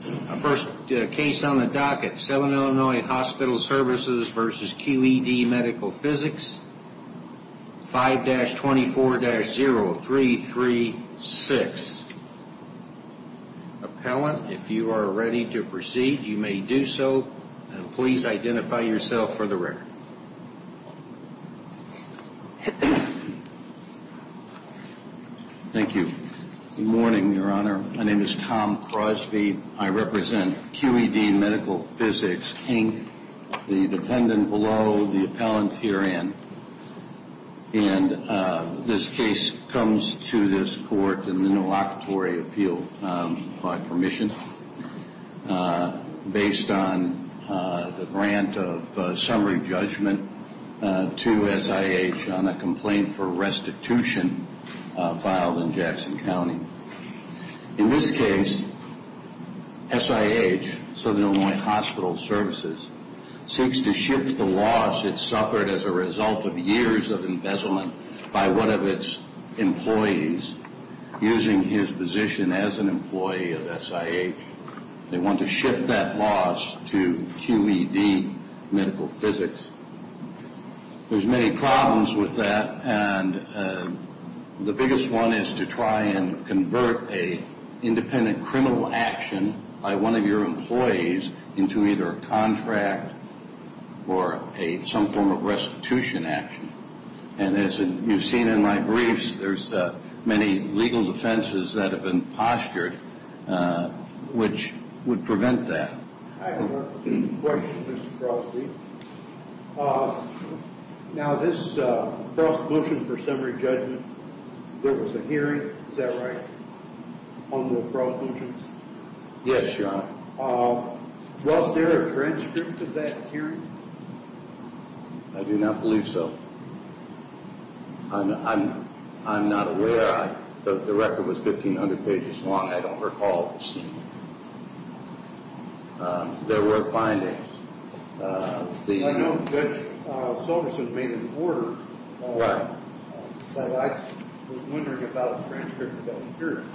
5-24-0336. Appellant, if you are ready to proceed, you may do so. Please identify yourself for the record. Thank you. Good morning, Your Honor. My name is Tom Crosby. I represent Q.E.D. Medical Physics, Inc., the defendant below, the appellant herein. And this case comes to this court in the no locatory appeal by permission based on the grant of summary judgment to SIH on a complaint for restitution filed in Jackson County. In this case, SIH, Southern Illinois Hospital Services, seeks to shift the loss it suffered as a result of years of embezzlement by one of its employees using his position as an employee of SIH. They want to shift that loss to Q.E.D. Medical Physics. There's many problems with that, and the biggest one is to try and convert an independent criminal action by one of your employees into either a contract or some form of restitution action. And as you've seen in my briefs, there's many legal defenses that have been postured which would prevent that. I have a question, Mr. Crosby. Now, this cross pollution for summary judgment, there was a hearing, is that right, on the cross pollution? Yes, Your Honor. Was there a transcript of that hearing? I do not believe so. I'm not aware. The record was 1,500 pages long. I don't recall seeing it. There were findings. I know Judge Soberson made an order, but I was wondering about the transcript of that hearing.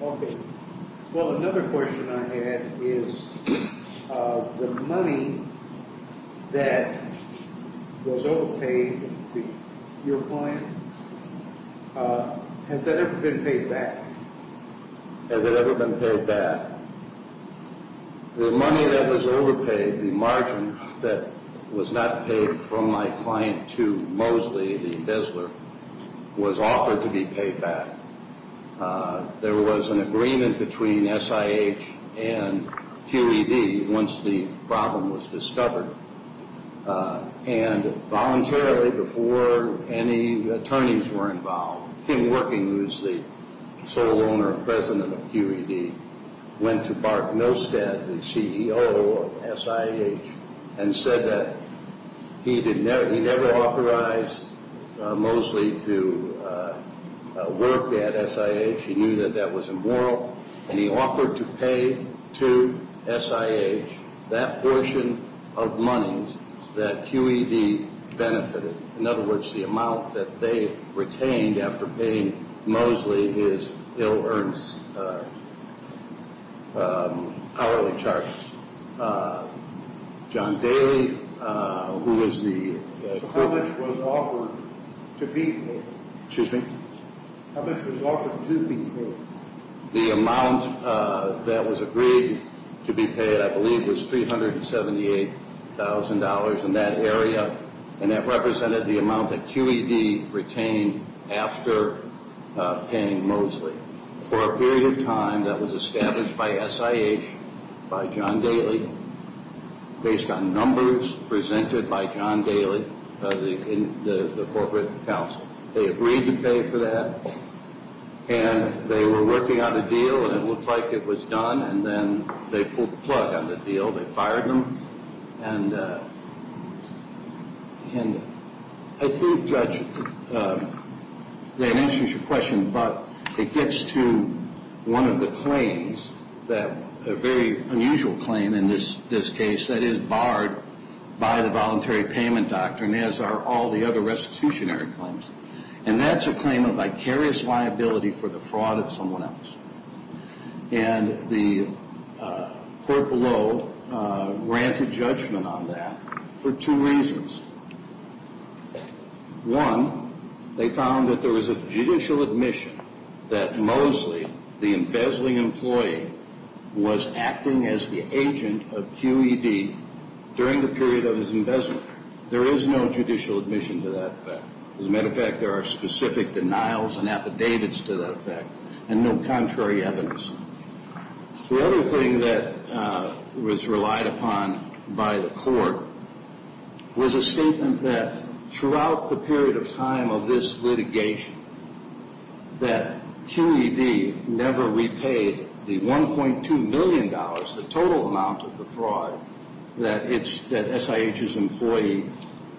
Okay. Well, another question I had is the money that was overpaid, your client, has that ever been paid back? Has it ever been paid back? The money that was overpaid, the margin that was not paid from my client to Mosley, the embezzler, was offered to be paid back. There was an agreement between SIH and QED once the problem was discovered. And voluntarily, before any attorneys were involved, him working, who was the sole owner and president of QED, went to Mark Nostad, the CEO of SIH, and said that he never authorized Mosley to work there. He had SIH. He knew that that was immoral. And he offered to pay to SIH that portion of money that QED benefited, in other words, the amount that they retained after paying Mosley his ill-earned hourly charges. So how much was offered to be paid? Excuse me? How much was offered to be paid? The amount that was agreed to be paid, I believe, was $378,000 in that area. And that represented the amount that QED retained after paying Mosley. for a period of time that was established by SIH, by John Daly, based on numbers presented by John Daly, the corporate counsel. They agreed to pay for that. And they were working on a deal, and it looked like it was done. And then they pulled the plug on the deal. They fired them. And I think, Judge, that answers your question, but it gets to one of the claims, a very unusual claim in this case, that is barred by the voluntary payment doctrine, as are all the other restitutionary claims. And that's a claim of vicarious liability for the fraud of someone else. And the court below granted judgment on that for two reasons. One, they found that there was a judicial admission that Mosley, the embezzling employee, was acting as the agent of QED during the period of his embezzlement. There is no judicial admission to that fact. As a matter of fact, there are specific denials and affidavits to that effect, and no contrary evidence. The other thing that was relied upon by the court was a statement that throughout the period of time of this litigation, that QED never repaid the $1.2 million, the total amount of the fraud, that SIH's employee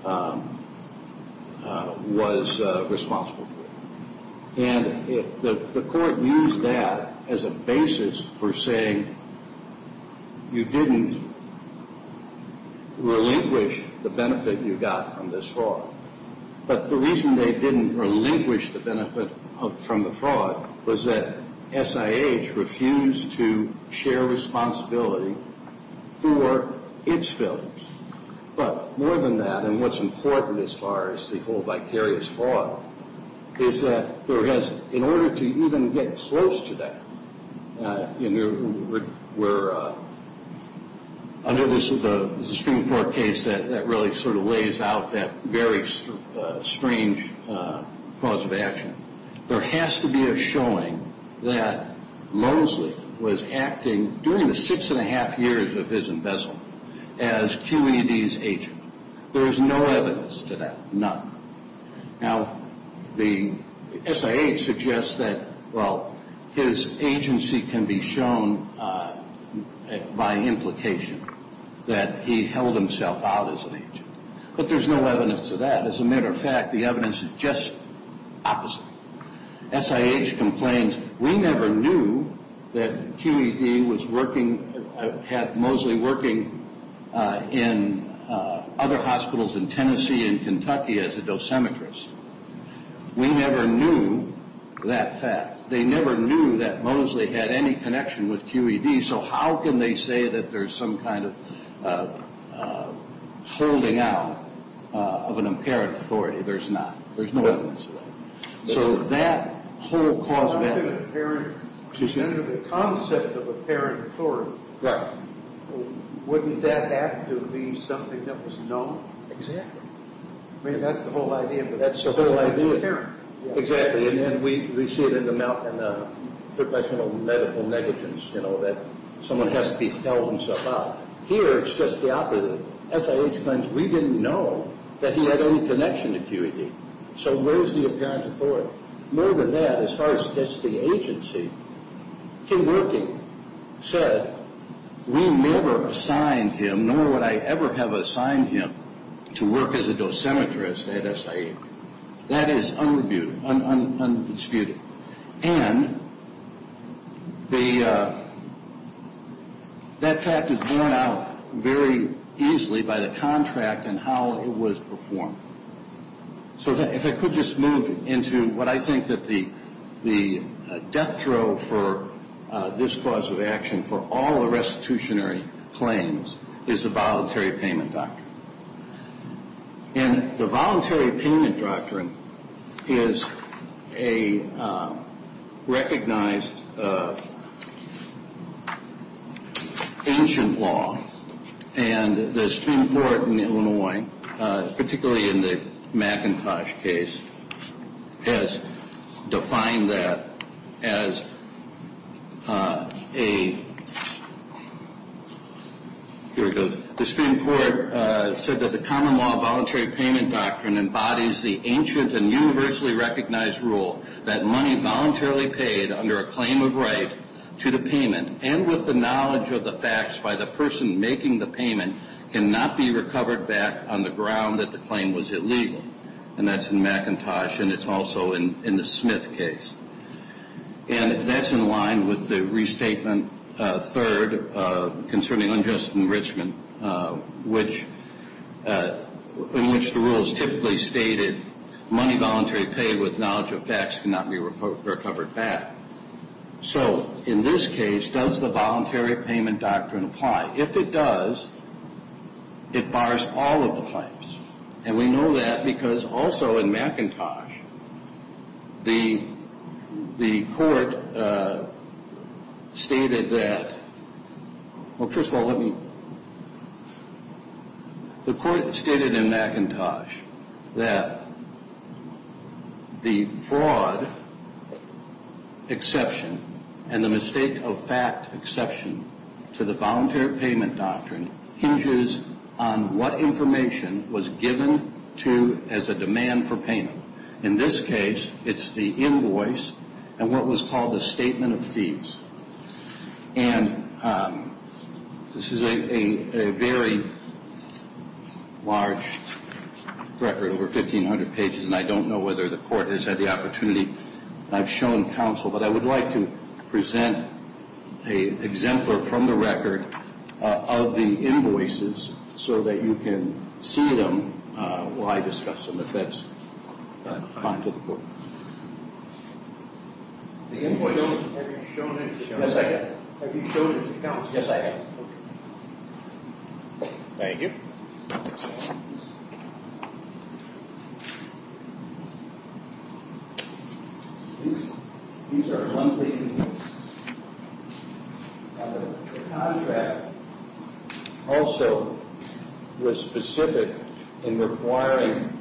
was responsible for. And the court used that as a basis for saying you didn't relinquish the benefit you got from this fraud. But the reason they didn't relinquish the benefit from the fraud was that SIH refused to share responsibility for its filings. But more than that, and what's important as far as the whole vicarious fraud, is that there has, in order to even get close to that, there has to be a showing that Mosley was acting during the six and a half years of his embezzlement as QED's agent. There is no evidence to that, none. Now the SIH suggests that, well, his agency can be shown by implication that he held himself out as an agent. But there's no evidence to that. As a matter of fact, the evidence is just opposite. SIH complains, we never knew that QED was working, had Mosley working in other hospitals in Tennessee and Kentucky as a dosimetrist. We never knew that fact. They never knew that Mosley had any connection with QED, so how can they say that there's some kind of holding out of an apparent authority? There's not. There's no evidence of that. So that whole cause of action. Excuse me? Under the concept of apparent authority, wouldn't that have to be something that was known? I mean, that's the whole idea. That's the whole idea. It's apparent. Exactly, and then we see it in the professional medical negligence, you know, that someone has to be held himself out. Here, it's just the opposite. SIH claims we didn't know that he had any connection to QED, so where's the apparent authority? More than that, as far as just the agency, Kim Wilking said, we never assigned him, nor would I ever have assigned him to work as a dosimetrist at SIH. That is undisputed, and that fact is borne out very easily by the contract and how it was performed. So if I could just move into what I think that the death throw for this cause of action for all the restitutionary claims is the voluntary payment doctrine. And the voluntary payment doctrine is a recognized ancient law, and the Supreme Court in Illinois, particularly in the McIntosh case, has defined that as a, here it goes, the Supreme Court said that the common law voluntary payment doctrine embodies the ancient and universally recognized rule that money voluntarily paid under a claim of right to the payment and with the knowledge of the facts by the person making the payment cannot be recovered back on the ground that the claim was illegal. And that's in McIntosh, and it's also in the Smith case. And that's in line with the restatement third concerning unjust enrichment, in which the rules typically stated money voluntary paid with knowledge of facts cannot be recovered back. So in this case, does the voluntary payment doctrine apply? If it does, it bars all of the claims. And we know that because also in McIntosh, the court stated that, well, first of all, let me, the court stated in McIntosh that the fraud exception and the mistake of fact exception to the voluntary payment doctrine hinges on what information was given to as a demand for payment. In this case, it's the invoice and what was called the statement of fees. And this is a very large record, over 1,500 pages, and I don't know whether the court has had the opportunity. I've shown counsel, but I would like to present an exemplar from the record of the invoices so that you can see them while I discuss them if that's fine to the court. The invoice. Have you shown it to counsel? Yes, I have. Thank you. The contract also was specific in requiring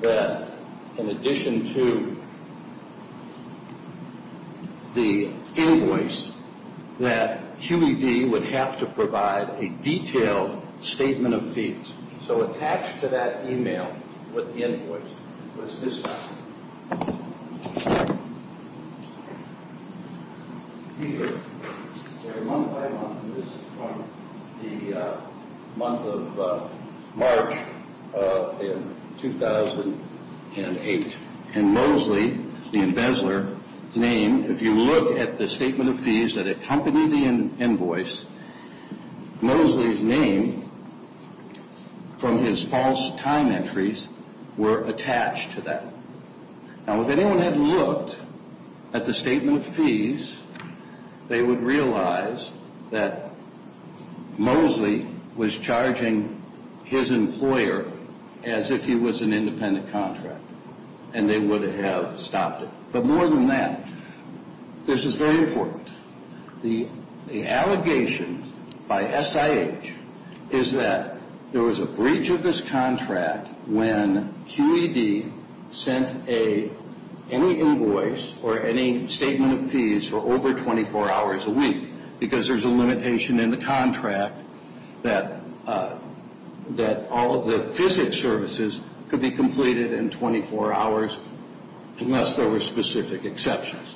that in addition to the invoice, that QED would have to provide a detailed statement of fees. So attached to that e-mail was the invoice. This is from the month of March in 2008. And Mosley, the embezzler, name, if you look at the statement of fees that accompanied the invoice, Mosley's name from his false time entries were attached to that. Now, if anyone had looked at the statement of fees, they would realize that Mosley was charging his employer as if he was an independent contractor, and they would have stopped it. But more than that, this is very important. The allegation by SIH is that there was a breach of this contract when QED sent any invoice or any statement of fees for over 24 hours a week because there's a limitation in the contract that all of the physics services could be completed in 24 hours unless there were specific exceptions.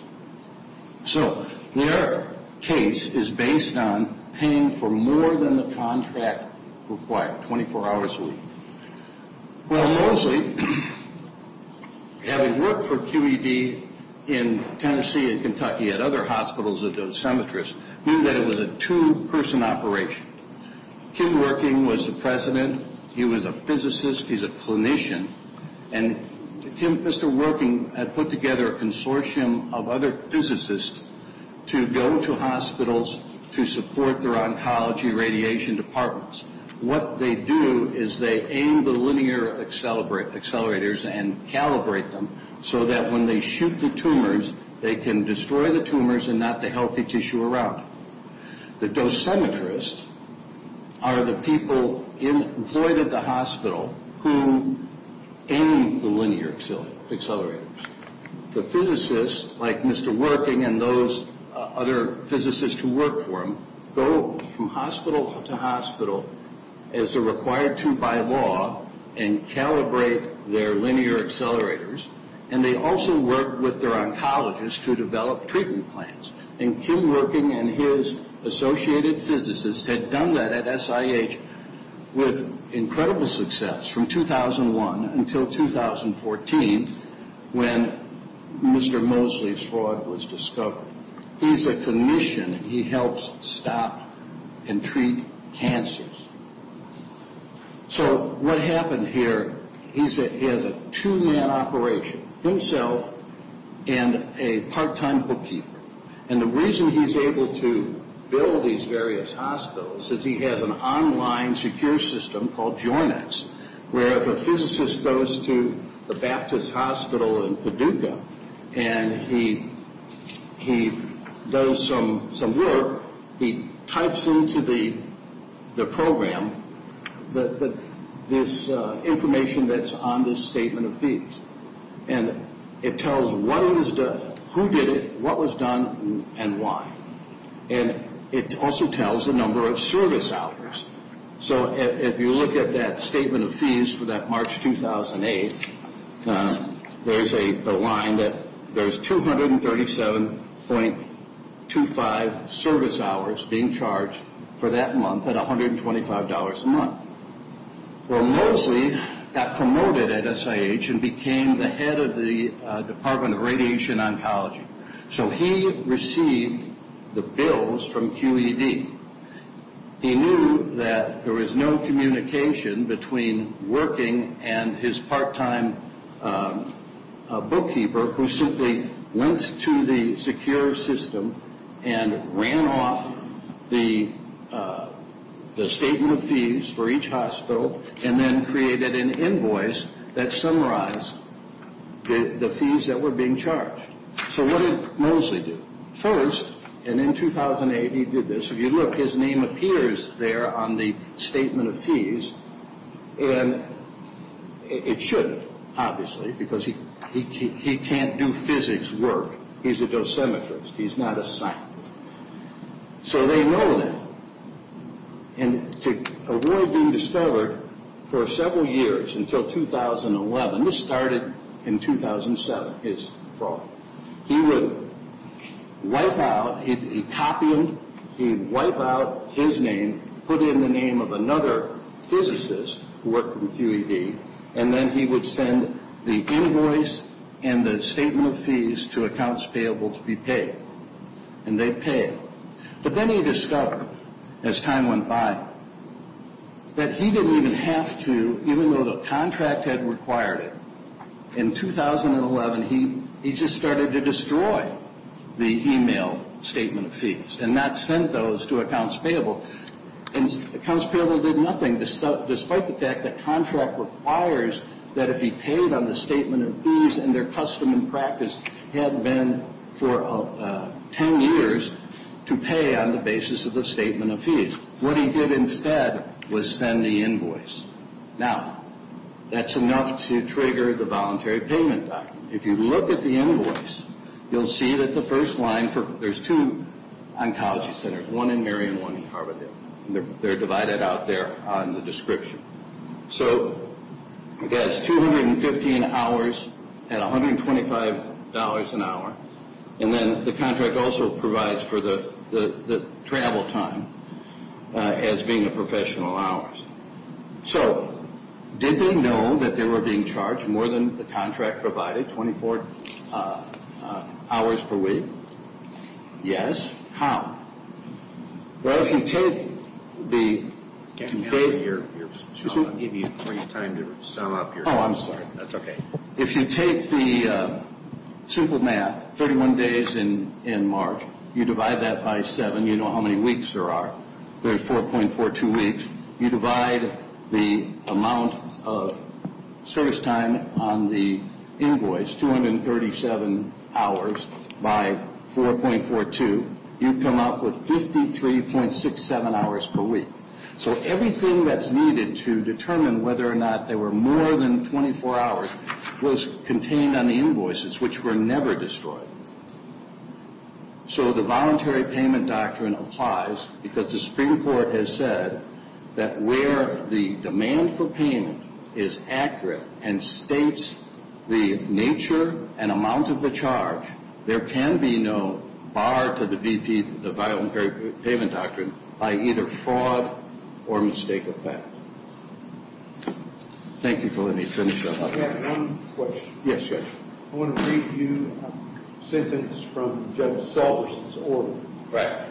So their case is based on paying for more than the contract required, 24 hours a week. Well, Mosley, having worked for QED in Tennessee and Kentucky at other hospitals knew that it was a two-person operation. Kim Working was the president. He was a physicist. He's a clinician. And Mr. Working had put together a consortium of other physicists to go to hospitals to support their oncology radiation departments. What they do is they aim the linear accelerators and calibrate them so that when they shoot the tumors, they can destroy the tumors and not the healthy tissue around them. The dosimetrists are the people in the hospital who aim the linear accelerators. The physicists, like Mr. Working and those other physicists who work for him, go from hospital to hospital as they're required to by law and calibrate their linear accelerators. And they also work with their oncologists to develop treatment plans. And Kim Working and his associated physicists had done that at SIH with incredible success from 2001 until 2014 when Mr. Mosley's fraud was discovered. He's a clinician. He helps stop and treat cancers. So what happened here, he has a two-man operation, himself and a part-time bookkeeper. And the reason he's able to build these various hospitals is he has an online secure system called JORNEX where if a physicist goes to the Baptist Hospital in Paducah and he does some work, he types into the program, this information that's on this statement of fees. And it tells what was done, who did it, what was done, and why. And it also tells the number of service hours. So if you look at that statement of fees for that March 2008, there's a line that there's 237.25 service hours being charged for that month at $125 a month. Well, Mosley got promoted at SIH and became the head of the Department of Radiation Oncology. So he received the bills from QED. He knew that there was no communication between working and his part-time bookkeeper who simply went to the secure system and ran off the statement of fees for each hospital and then created an invoice that summarized the fees that were being charged. So what did Mosley do? First, and in 2008 he did this, if you look, his name appears there on the statement of fees. And it should, obviously, because he can't do physics work. He's a dosimetrist. He's not a scientist. So they know that. And to avoid being discovered for several years until 2011, this started in 2007, his fault, he would wipe out, he'd copy them, he'd wipe out his name, put in the name of another physicist who worked for QED, and then he would send the invoice and the statement of fees to accounts payable to be paid. And they'd pay him. But then he discovered, as time went by, that he didn't even have to, even though the contract had required it. In 2011, he just started to destroy the email statement of fees and not send those to accounts payable. And accounts payable did nothing, despite the fact that contract requires that it be paid on the statement of fees, and their custom and practice had been for 10 years to pay on the basis of the statement of fees. What he did instead was send the invoice. Now, that's enough to trigger the voluntary payment document. If you look at the invoice, you'll see that the first line, there's two oncology centers, one in Mary and one in Harvard. They're divided out there on the description. So, I guess, 215 hours at $125 an hour, and then the contract also provides for the travel time as being the professional hours. So, did they know that they were being charged more than the contract provided, 24 hours per week? Yes. How? Well, if you take the... I'll give you time to sum up your... Oh, I'm sorry. That's okay. If you take the simple math, 31 days in March, you divide that by 7, you know how many weeks there are. There's 4.42 weeks. You divide the amount of service time on the invoice, 237 hours, by 4.42, you come up with 53.67 hours per week. So, everything that's needed to determine whether or not they were more than 24 hours was contained on the invoices, which were never destroyed. So, the Voluntary Payment Doctrine applies because the Supreme Court has said that where the demand for payment is accurate and states the nature and amount of the charge, there can be no bar to the VP, the Voluntary Payment Doctrine, by either fraud or mistake of fact. Thank you for letting me finish up. I have one question. Yes, Judge. I want to read to you a sentence from Judge Salverson's order. Right.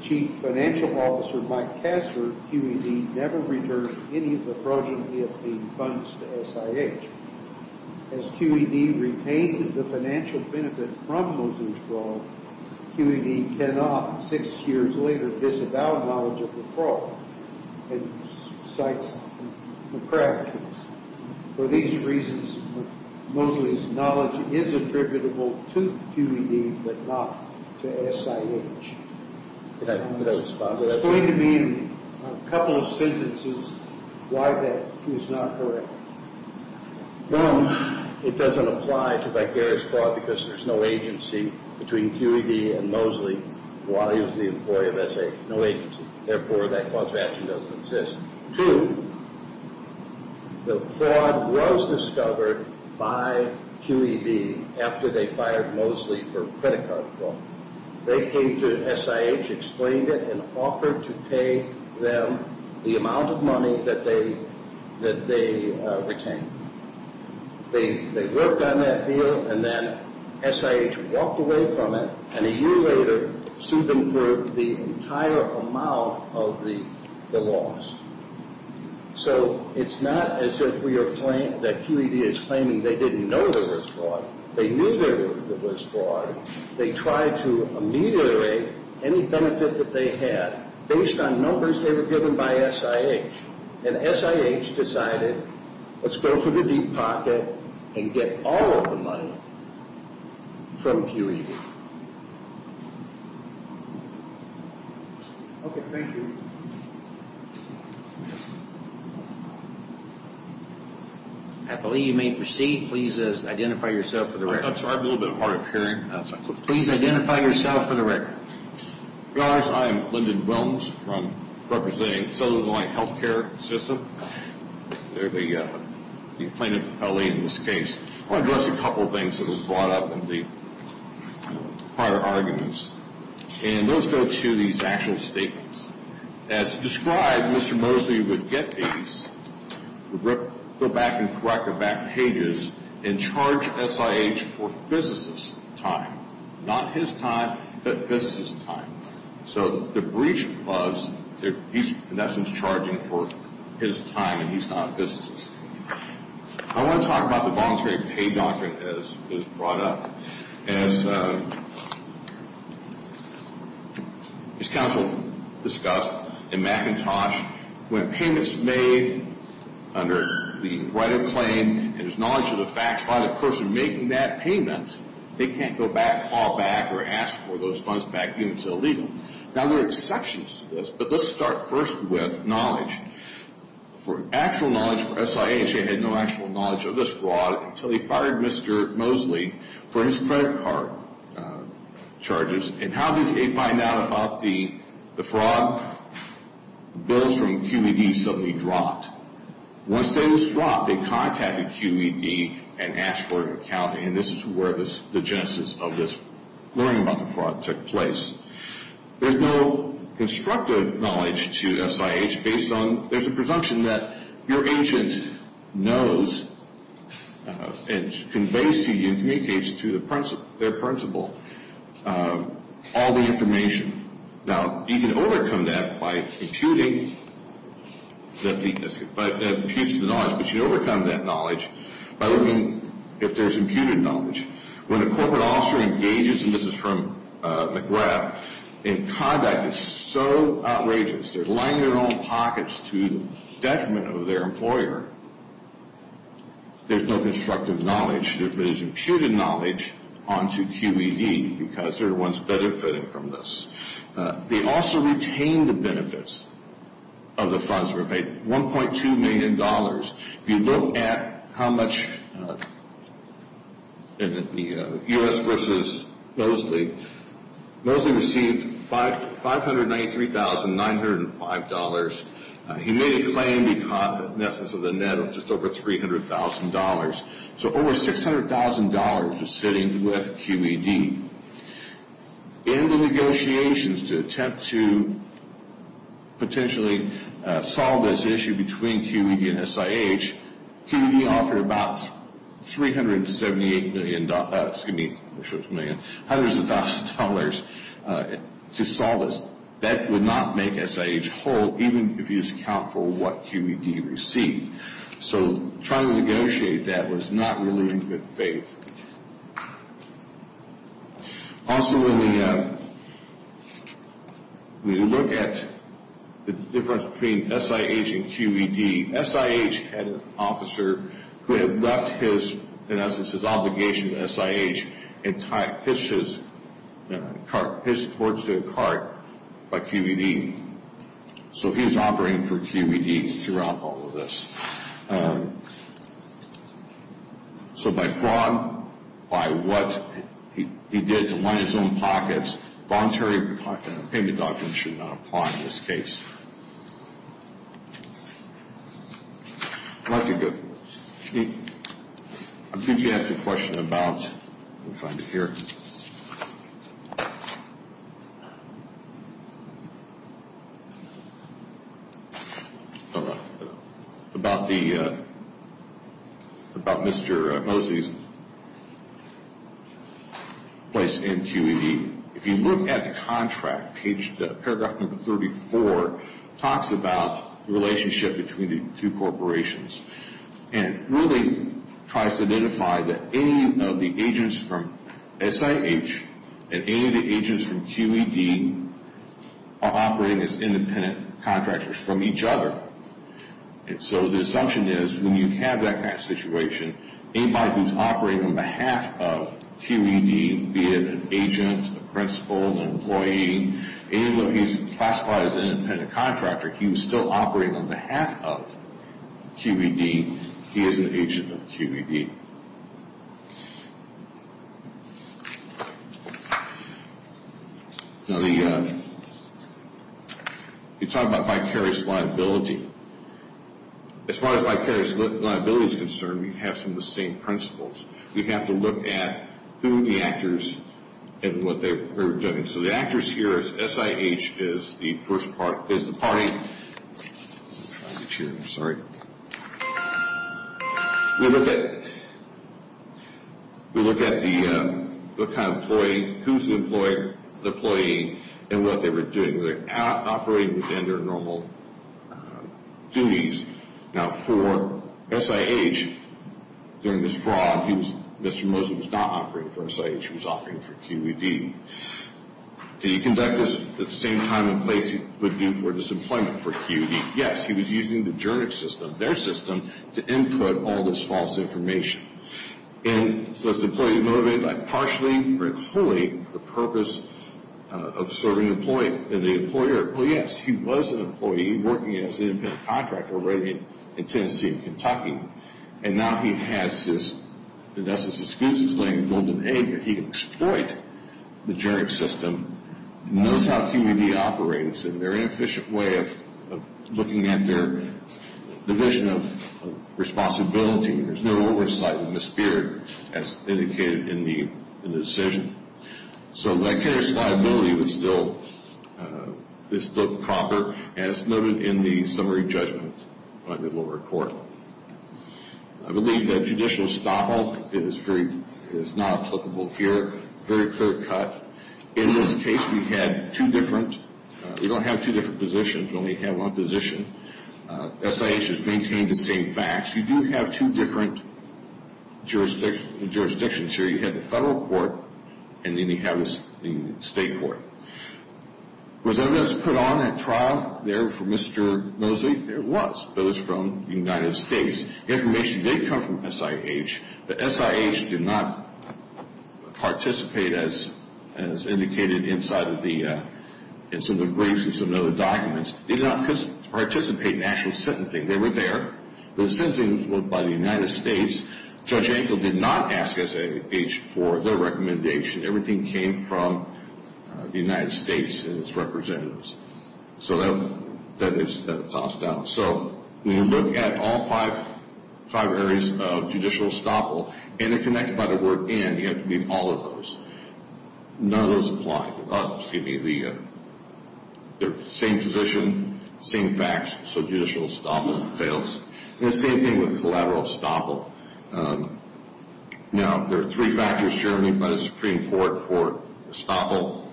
Chief Financial Officer Mike Kasler, QED, never returned any of the fraudulent EFD funds to SIH. As QED repaid the financial benefit from Mosley's fraud, QED cannot, six years later, disavow knowledge of the fraud. For these reasons, Mosley's knowledge is attributable to QED, but not to SIH. Could I respond to that? Explain to me in a couple of sentences why that is not correct. One, it doesn't apply to vicarious fraud because there's no agency between QED and Mosley. Wally was the employee of SIH. No agency. Therefore, that clause of action doesn't exist. Two, the fraud was discovered by QED after they fired Mosley for credit card fraud. They came to SIH, explained it, and offered to pay them the amount of money that they retained. They worked on that deal, and then SIH walked away from it, and a year later sued them for the entire amount of the loss. So it's not as if we are – that QED is claiming they didn't know there was fraud. They knew there was fraud. They tried to ameliorate any benefit that they had based on numbers they were given by SIH. And SIH decided, let's go for the deep pocket and get all of the money from QED. Okay, thank you. I believe you may proceed. Please identify yourself for the record. I'm sorry, I'm a little bit hard of hearing. Please identify yourself for the record. Good afternoon. I am Lyndon Wilms from – representing Southern Illinois Health Care System. They're the plaintiff's affiliate in this case. I want to address a couple of things that were brought up in the prior arguments, and those go to these actual statements. As described, Mr. Mosley would get these, go back and correct the back pages, and charge SIH for physicist's time. Not his time, but physicist's time. So the breach was that he's in essence charging for his time, and he's not a physicist. I want to talk about the voluntary pay doctrine that was brought up. As counsel discussed in McIntosh, when payment's made under the right of claim, and there's knowledge of the facts by the person making that payment, they can't go back, call back, or ask for those funds back due until legal. Now, there are exceptions to this, but let's start first with knowledge. For actual knowledge for SIH, they had no actual knowledge of this fraud until they fired Mr. Mosley for his credit card charges. And how did they find out about the fraud? Bills from QED suddenly dropped. Once those dropped, they contacted QED and asked for an account, and this is where the genesis of this learning about the fraud took place. There's no constructive knowledge to SIH based on – your agent knows and conveys to you and communicates to their principal all the information. Now, you can overcome that by imputing the knowledge, but you overcome that knowledge by looking if there's imputed knowledge. When a corporate officer engages – and this is from McGrath – in conduct that's so outrageous, they're lining their own pockets to the detriment of their employer, there's no constructive knowledge. There is imputed knowledge onto QED because they're the ones benefiting from this. They also retained the benefits of the funds that were paid, $1.2 million. If you look at how much – in the U.S. versus Mosley, Mosley received $593,905. He made a claim he caught in essence of the net of just over $300,000. So over $600,000 was sitting with QED. In the negotiations to attempt to potentially solve this issue between QED and SIH, QED offered about $378 million – excuse me, $600,000 to solve this. That would not make SIH whole even if you just account for what QED received. So trying to negotiate that was not really in good faith. Also, when we look at the difference between SIH and QED, SIH had an officer who had left his – in essence his obligation to SIH and pitched his car – pitched towards their cart by QED. So he was operating for QED throughout all of this. So by fraud, by what he did to line his own pockets, voluntary repayment documents should not apply in this case. I'd like to – I think you asked a question about – let me find it here – about the – about Mr. Mosley's place in QED. If you look at the contract, paragraph number 34 talks about the relationship between the two corporations and really tries to identify that any of the agents from SIH and any of the agents from QED are operating as independent contractors from each other. And so the assumption is when you have that kind of situation, anybody who's operating on behalf of QED, be it an agent, a principal, an employee, even though he's classified as an independent contractor, he was still operating on behalf of QED. He is an agent of QED. Now, the – you talk about vicarious liability. As far as vicarious liability is concerned, we have some of the same principles. We have to look at who the actors and what they are doing. So the actors here is SIH is the first part – is the party. Let me try this here. I'm sorry. We look at – we look at the kind of employee, who's the employee, and what they were doing, whether operating within their normal duties. Now, for SIH, during this fraud, he was – Mr. Mosley was not operating for SIH. He was operating for QED. Did he conduct this at the same time and place he would do for disemployment for QED? Yes. He was using the Jernick system, their system, to input all this false information. And so is the employee motivated by partially or wholly for the purpose of serving the employee? Well, yes. He was an employee. He was working as an in-built contractor already in Tennessee and Kentucky. And now he has his – and that's his excuse. He's laying a golden egg that he can exploit the Jernick system. He knows how QED operates. It's a very efficient way of looking at their division of responsibility. There's no oversight in the spirit, as indicated in the decision. So that case liability is still proper, as noted in the summary judgment by the lower court. I believe that judicial estoppel is very – is not applicable here. Very clear cut. In this case, we had two different – we don't have two different positions. We only have one position. SIH has maintained the same facts. You do have two different jurisdictions here. You have the federal court and then you have the state court. Was evidence put on at trial there for Mr. Mosley? It was. It was from the United States. Information did come from SIH, but SIH did not participate, as indicated inside of the – in some of the briefs and some of the other documents. They did not participate in actual sentencing. They were there. The sentencing was by the United States. Judge Ankle did not ask SIH for their recommendation. Everything came from the United States and its representatives. So that is tossed out. So when you look at all five areas of judicial estoppel, interconnected by the word in, you have to leave all of those. None of those apply. Excuse me, the same position, same facts, so judicial estoppel fails. The same thing with collateral estoppel. Now, there are three factors, Jeremy, by the Supreme Court for estoppel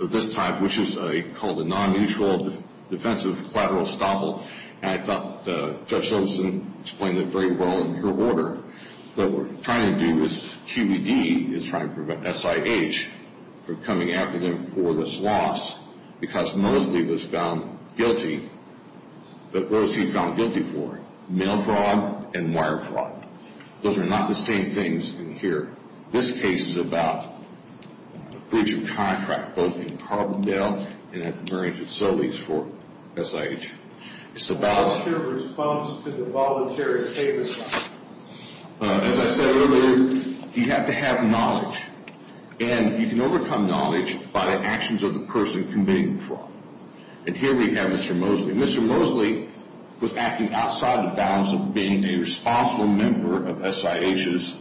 of this type, which is called a non-mutual defensive collateral estoppel, and I thought Judge Simpson explained it very well in her order. What we're trying to do is QED is trying to prevent SIH from coming after them for this loss because Mosley was found guilty. But what was he found guilty for? Mail fraud and wire fraud. Those are not the same things in here. This case is about breach of contract, both in Carbondale and at the Marine facilities for SIH. It's about the response to the voluntary statement. As I said earlier, you have to have knowledge, and you can overcome knowledge by the actions of the person committing the fraud. And here we have Mr. Mosley. Mr. Mosley was acting outside the bounds of being a responsible member of SIH's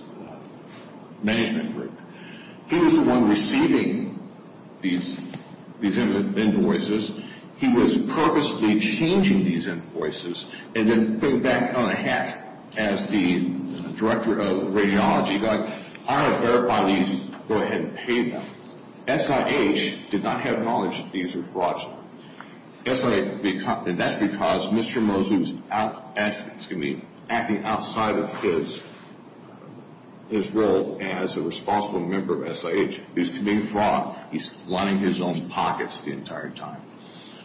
management group. He was the one receiving these invoices. He was purposely changing these invoices and then putting them back on a hat as the director of radiology going, I have verified these. Go ahead and pay them. SIH did not have knowledge that these were frauds. And that's because Mr. Mosley was acting outside of his role as a responsible member of SIH. He was committing fraud. He's lining his own pockets the entire time.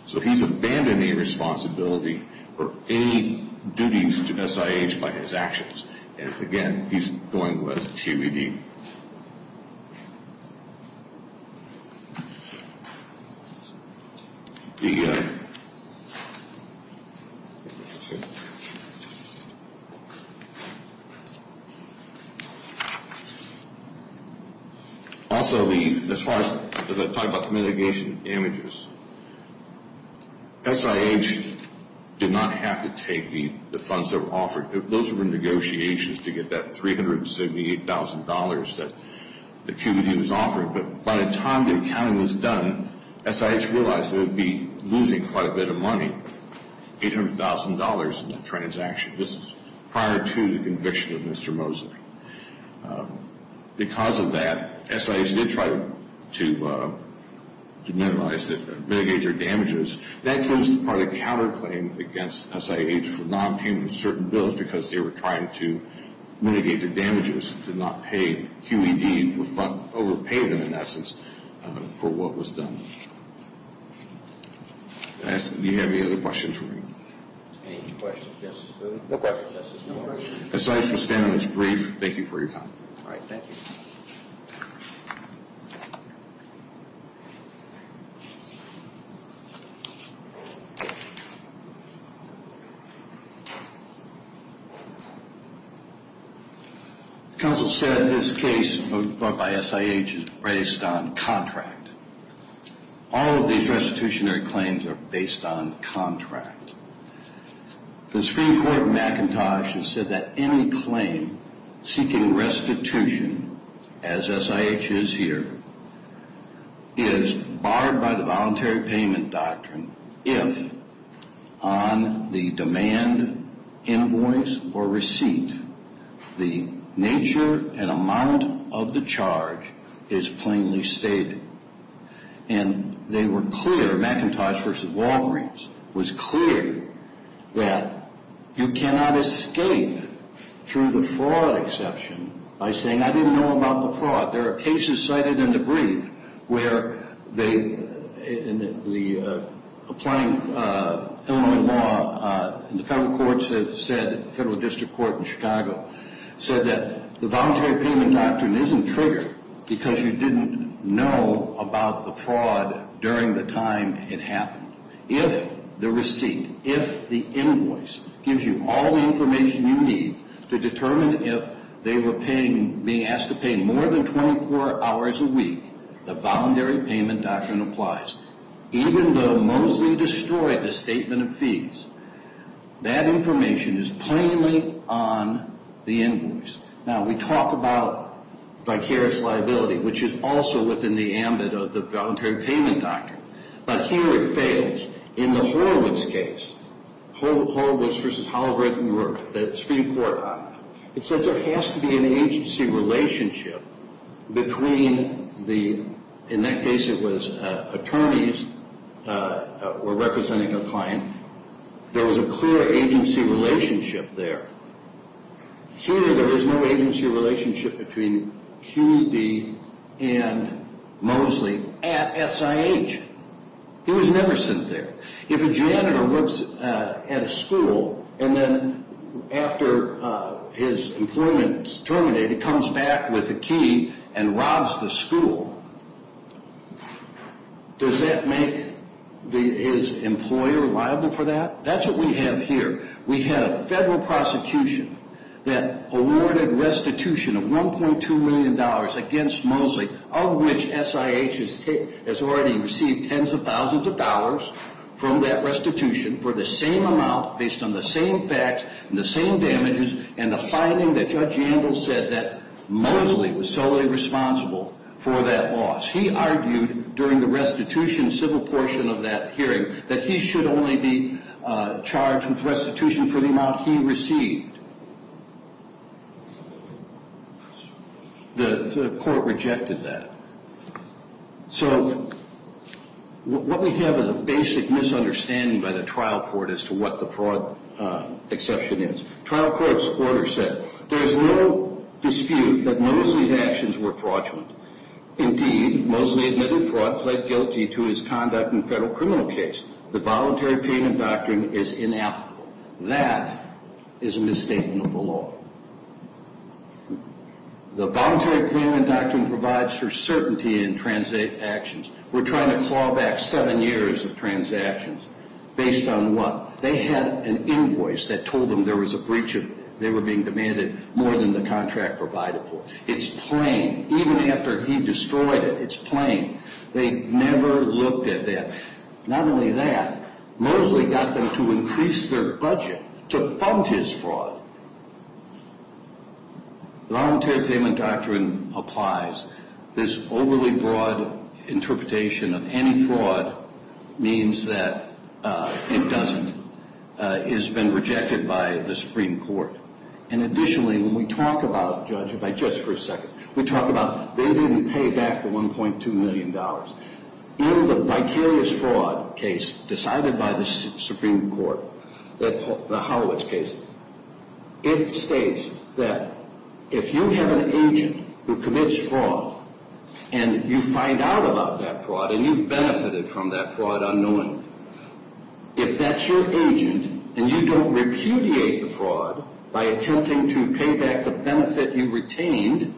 So he's abandoning responsibility for any duties to SIH by his actions. And, again, he's going with TBD. Also, as far as I talked about the mitigation damages, SIH did not have to take the funds that were offered. Those were negotiations to get that $378,000 that TBD was offering. But by the time the accounting was done, SIH realized they would be losing quite a bit of money, $800,000 in the transaction. This is prior to the conviction of Mr. Mosley. Because of that, SIH did try to minimize it, mitigate their damages. That was part of the counterclaim against SIH for not paying certain bills because they were trying to mitigate their damages, to not pay QED for overpaying them, in that sense, for what was done. Do you have any other questions for me? Any questions? No questions. SIH will stand on its brief. Thank you for your time. All right. Thank you. Counsel said this case brought by SIH is based on contract. All of these restitutionary claims are based on contract. The Supreme Court of McIntosh has said that any claim seeking restitution, as SIH is here, is barred by the voluntary payment doctrine if, on the demand, invoice, or receipt, the nature and amount of the charge is plainly stated. And they were clear, McIntosh v. Walgreens, was clear that you cannot escape through the fraud exception by saying, I didn't know about the fraud. There are cases cited in the brief where the applying Illinois law, and the federal courts have said, the federal district court in Chicago, said that the voluntary payment doctrine isn't triggered because you didn't know about the fraud during the time it happened. If the receipt, if the invoice gives you all the information you need to determine if they were being asked to pay more than 24 hours a week, the voluntary payment doctrine applies. Even though Mosley destroyed the statement of fees, that information is plainly on the invoice. Now, we talk about vicarious liability, which is also within the ambit of the voluntary payment doctrine. But here it fails. In the Horowitz case, Horowitz v. Holbrook, Newark, the Supreme Court, it said there has to be an agency relationship between the, in that case it was attorneys were representing a client. There was a clear agency relationship there. Here there is no agency relationship between QB and Mosley at SIH. He was never sent there. If a janitor works at a school and then after his employment is terminated, comes back with a key and robs the school, does that make his employer liable for that? That's what we have here. We have a federal prosecution that awarded restitution of $1.2 million against Mosley, of which SIH has already received tens of thousands of dollars from that restitution for the same amount based on the same facts and the same damages and the finding that Judge Angle said that Mosley was solely responsible for that loss. He argued during the restitution civil portion of that hearing that he should only be charged with restitution for the amount he received. The court rejected that. So what we have is a basic misunderstanding by the trial court as to what the fraud exception is. Trial court's order said there is no dispute that Mosley's actions were fraudulent. Indeed, Mosley admitted fraud, pled guilty to his conduct in a federal criminal case. The voluntary payment doctrine is inapplicable. That is a misstatement of the law. The voluntary payment doctrine provides for certainty in transactions. We're trying to claw back seven years of transactions based on what? They had an invoice that told them there was a breach of it. They were being demanded more than the contract provided for. It's plain. Even after he destroyed it, it's plain. They never looked at that. Not only that, Mosley got them to increase their budget to fund his fraud. The voluntary payment doctrine applies. This overly broad interpretation of any fraud means that it doesn't. It has been rejected by the Supreme Court. And additionally, when we talk about it, Judge, if I just for a second, we talk about they didn't pay back the $1.2 million. In the vicarious fraud case decided by the Supreme Court, the Howitz case, it states that if you have an agent who commits fraud and you find out about that fraud and you've benefited from that fraud unknowingly, if that's your agent and you don't repudiate the fraud by attempting to pay back the benefit you retained,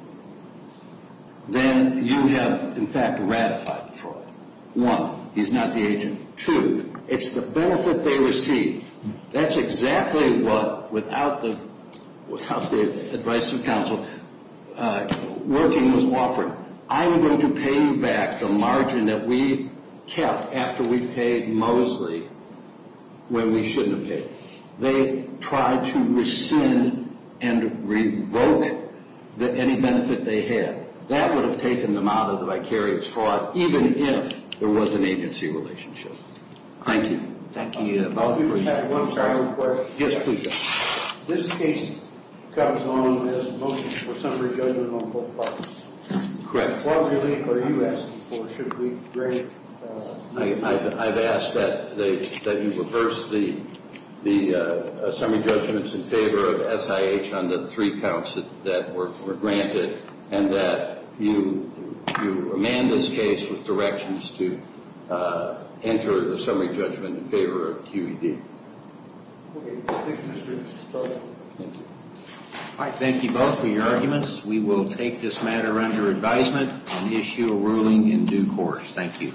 then you have, in fact, ratified the fraud. One, he's not the agent. Two, it's the benefit they received. That's exactly what, without the advice of counsel, working was offered. I'm going to pay you back the margin that we kept after we paid Mosley when we shouldn't have paid. They tried to rescind and revoke any benefit they had. That would have taken them out of the vicarious fraud, even if there was an agency relationship. Thank you. Thank you. One final question. Yes, please. This case comes on as a motion for summary judgment on both parties. Correct. What relief are you asking for? Should we grant? I've asked that you reverse the summary judgments in favor of SIH on the three counts that were granted and that you amend this case with directions to enter the summary judgment in favor of QED. Thank you both for your arguments. We will take this matter under advisement and issue a ruling in due course. Thank you.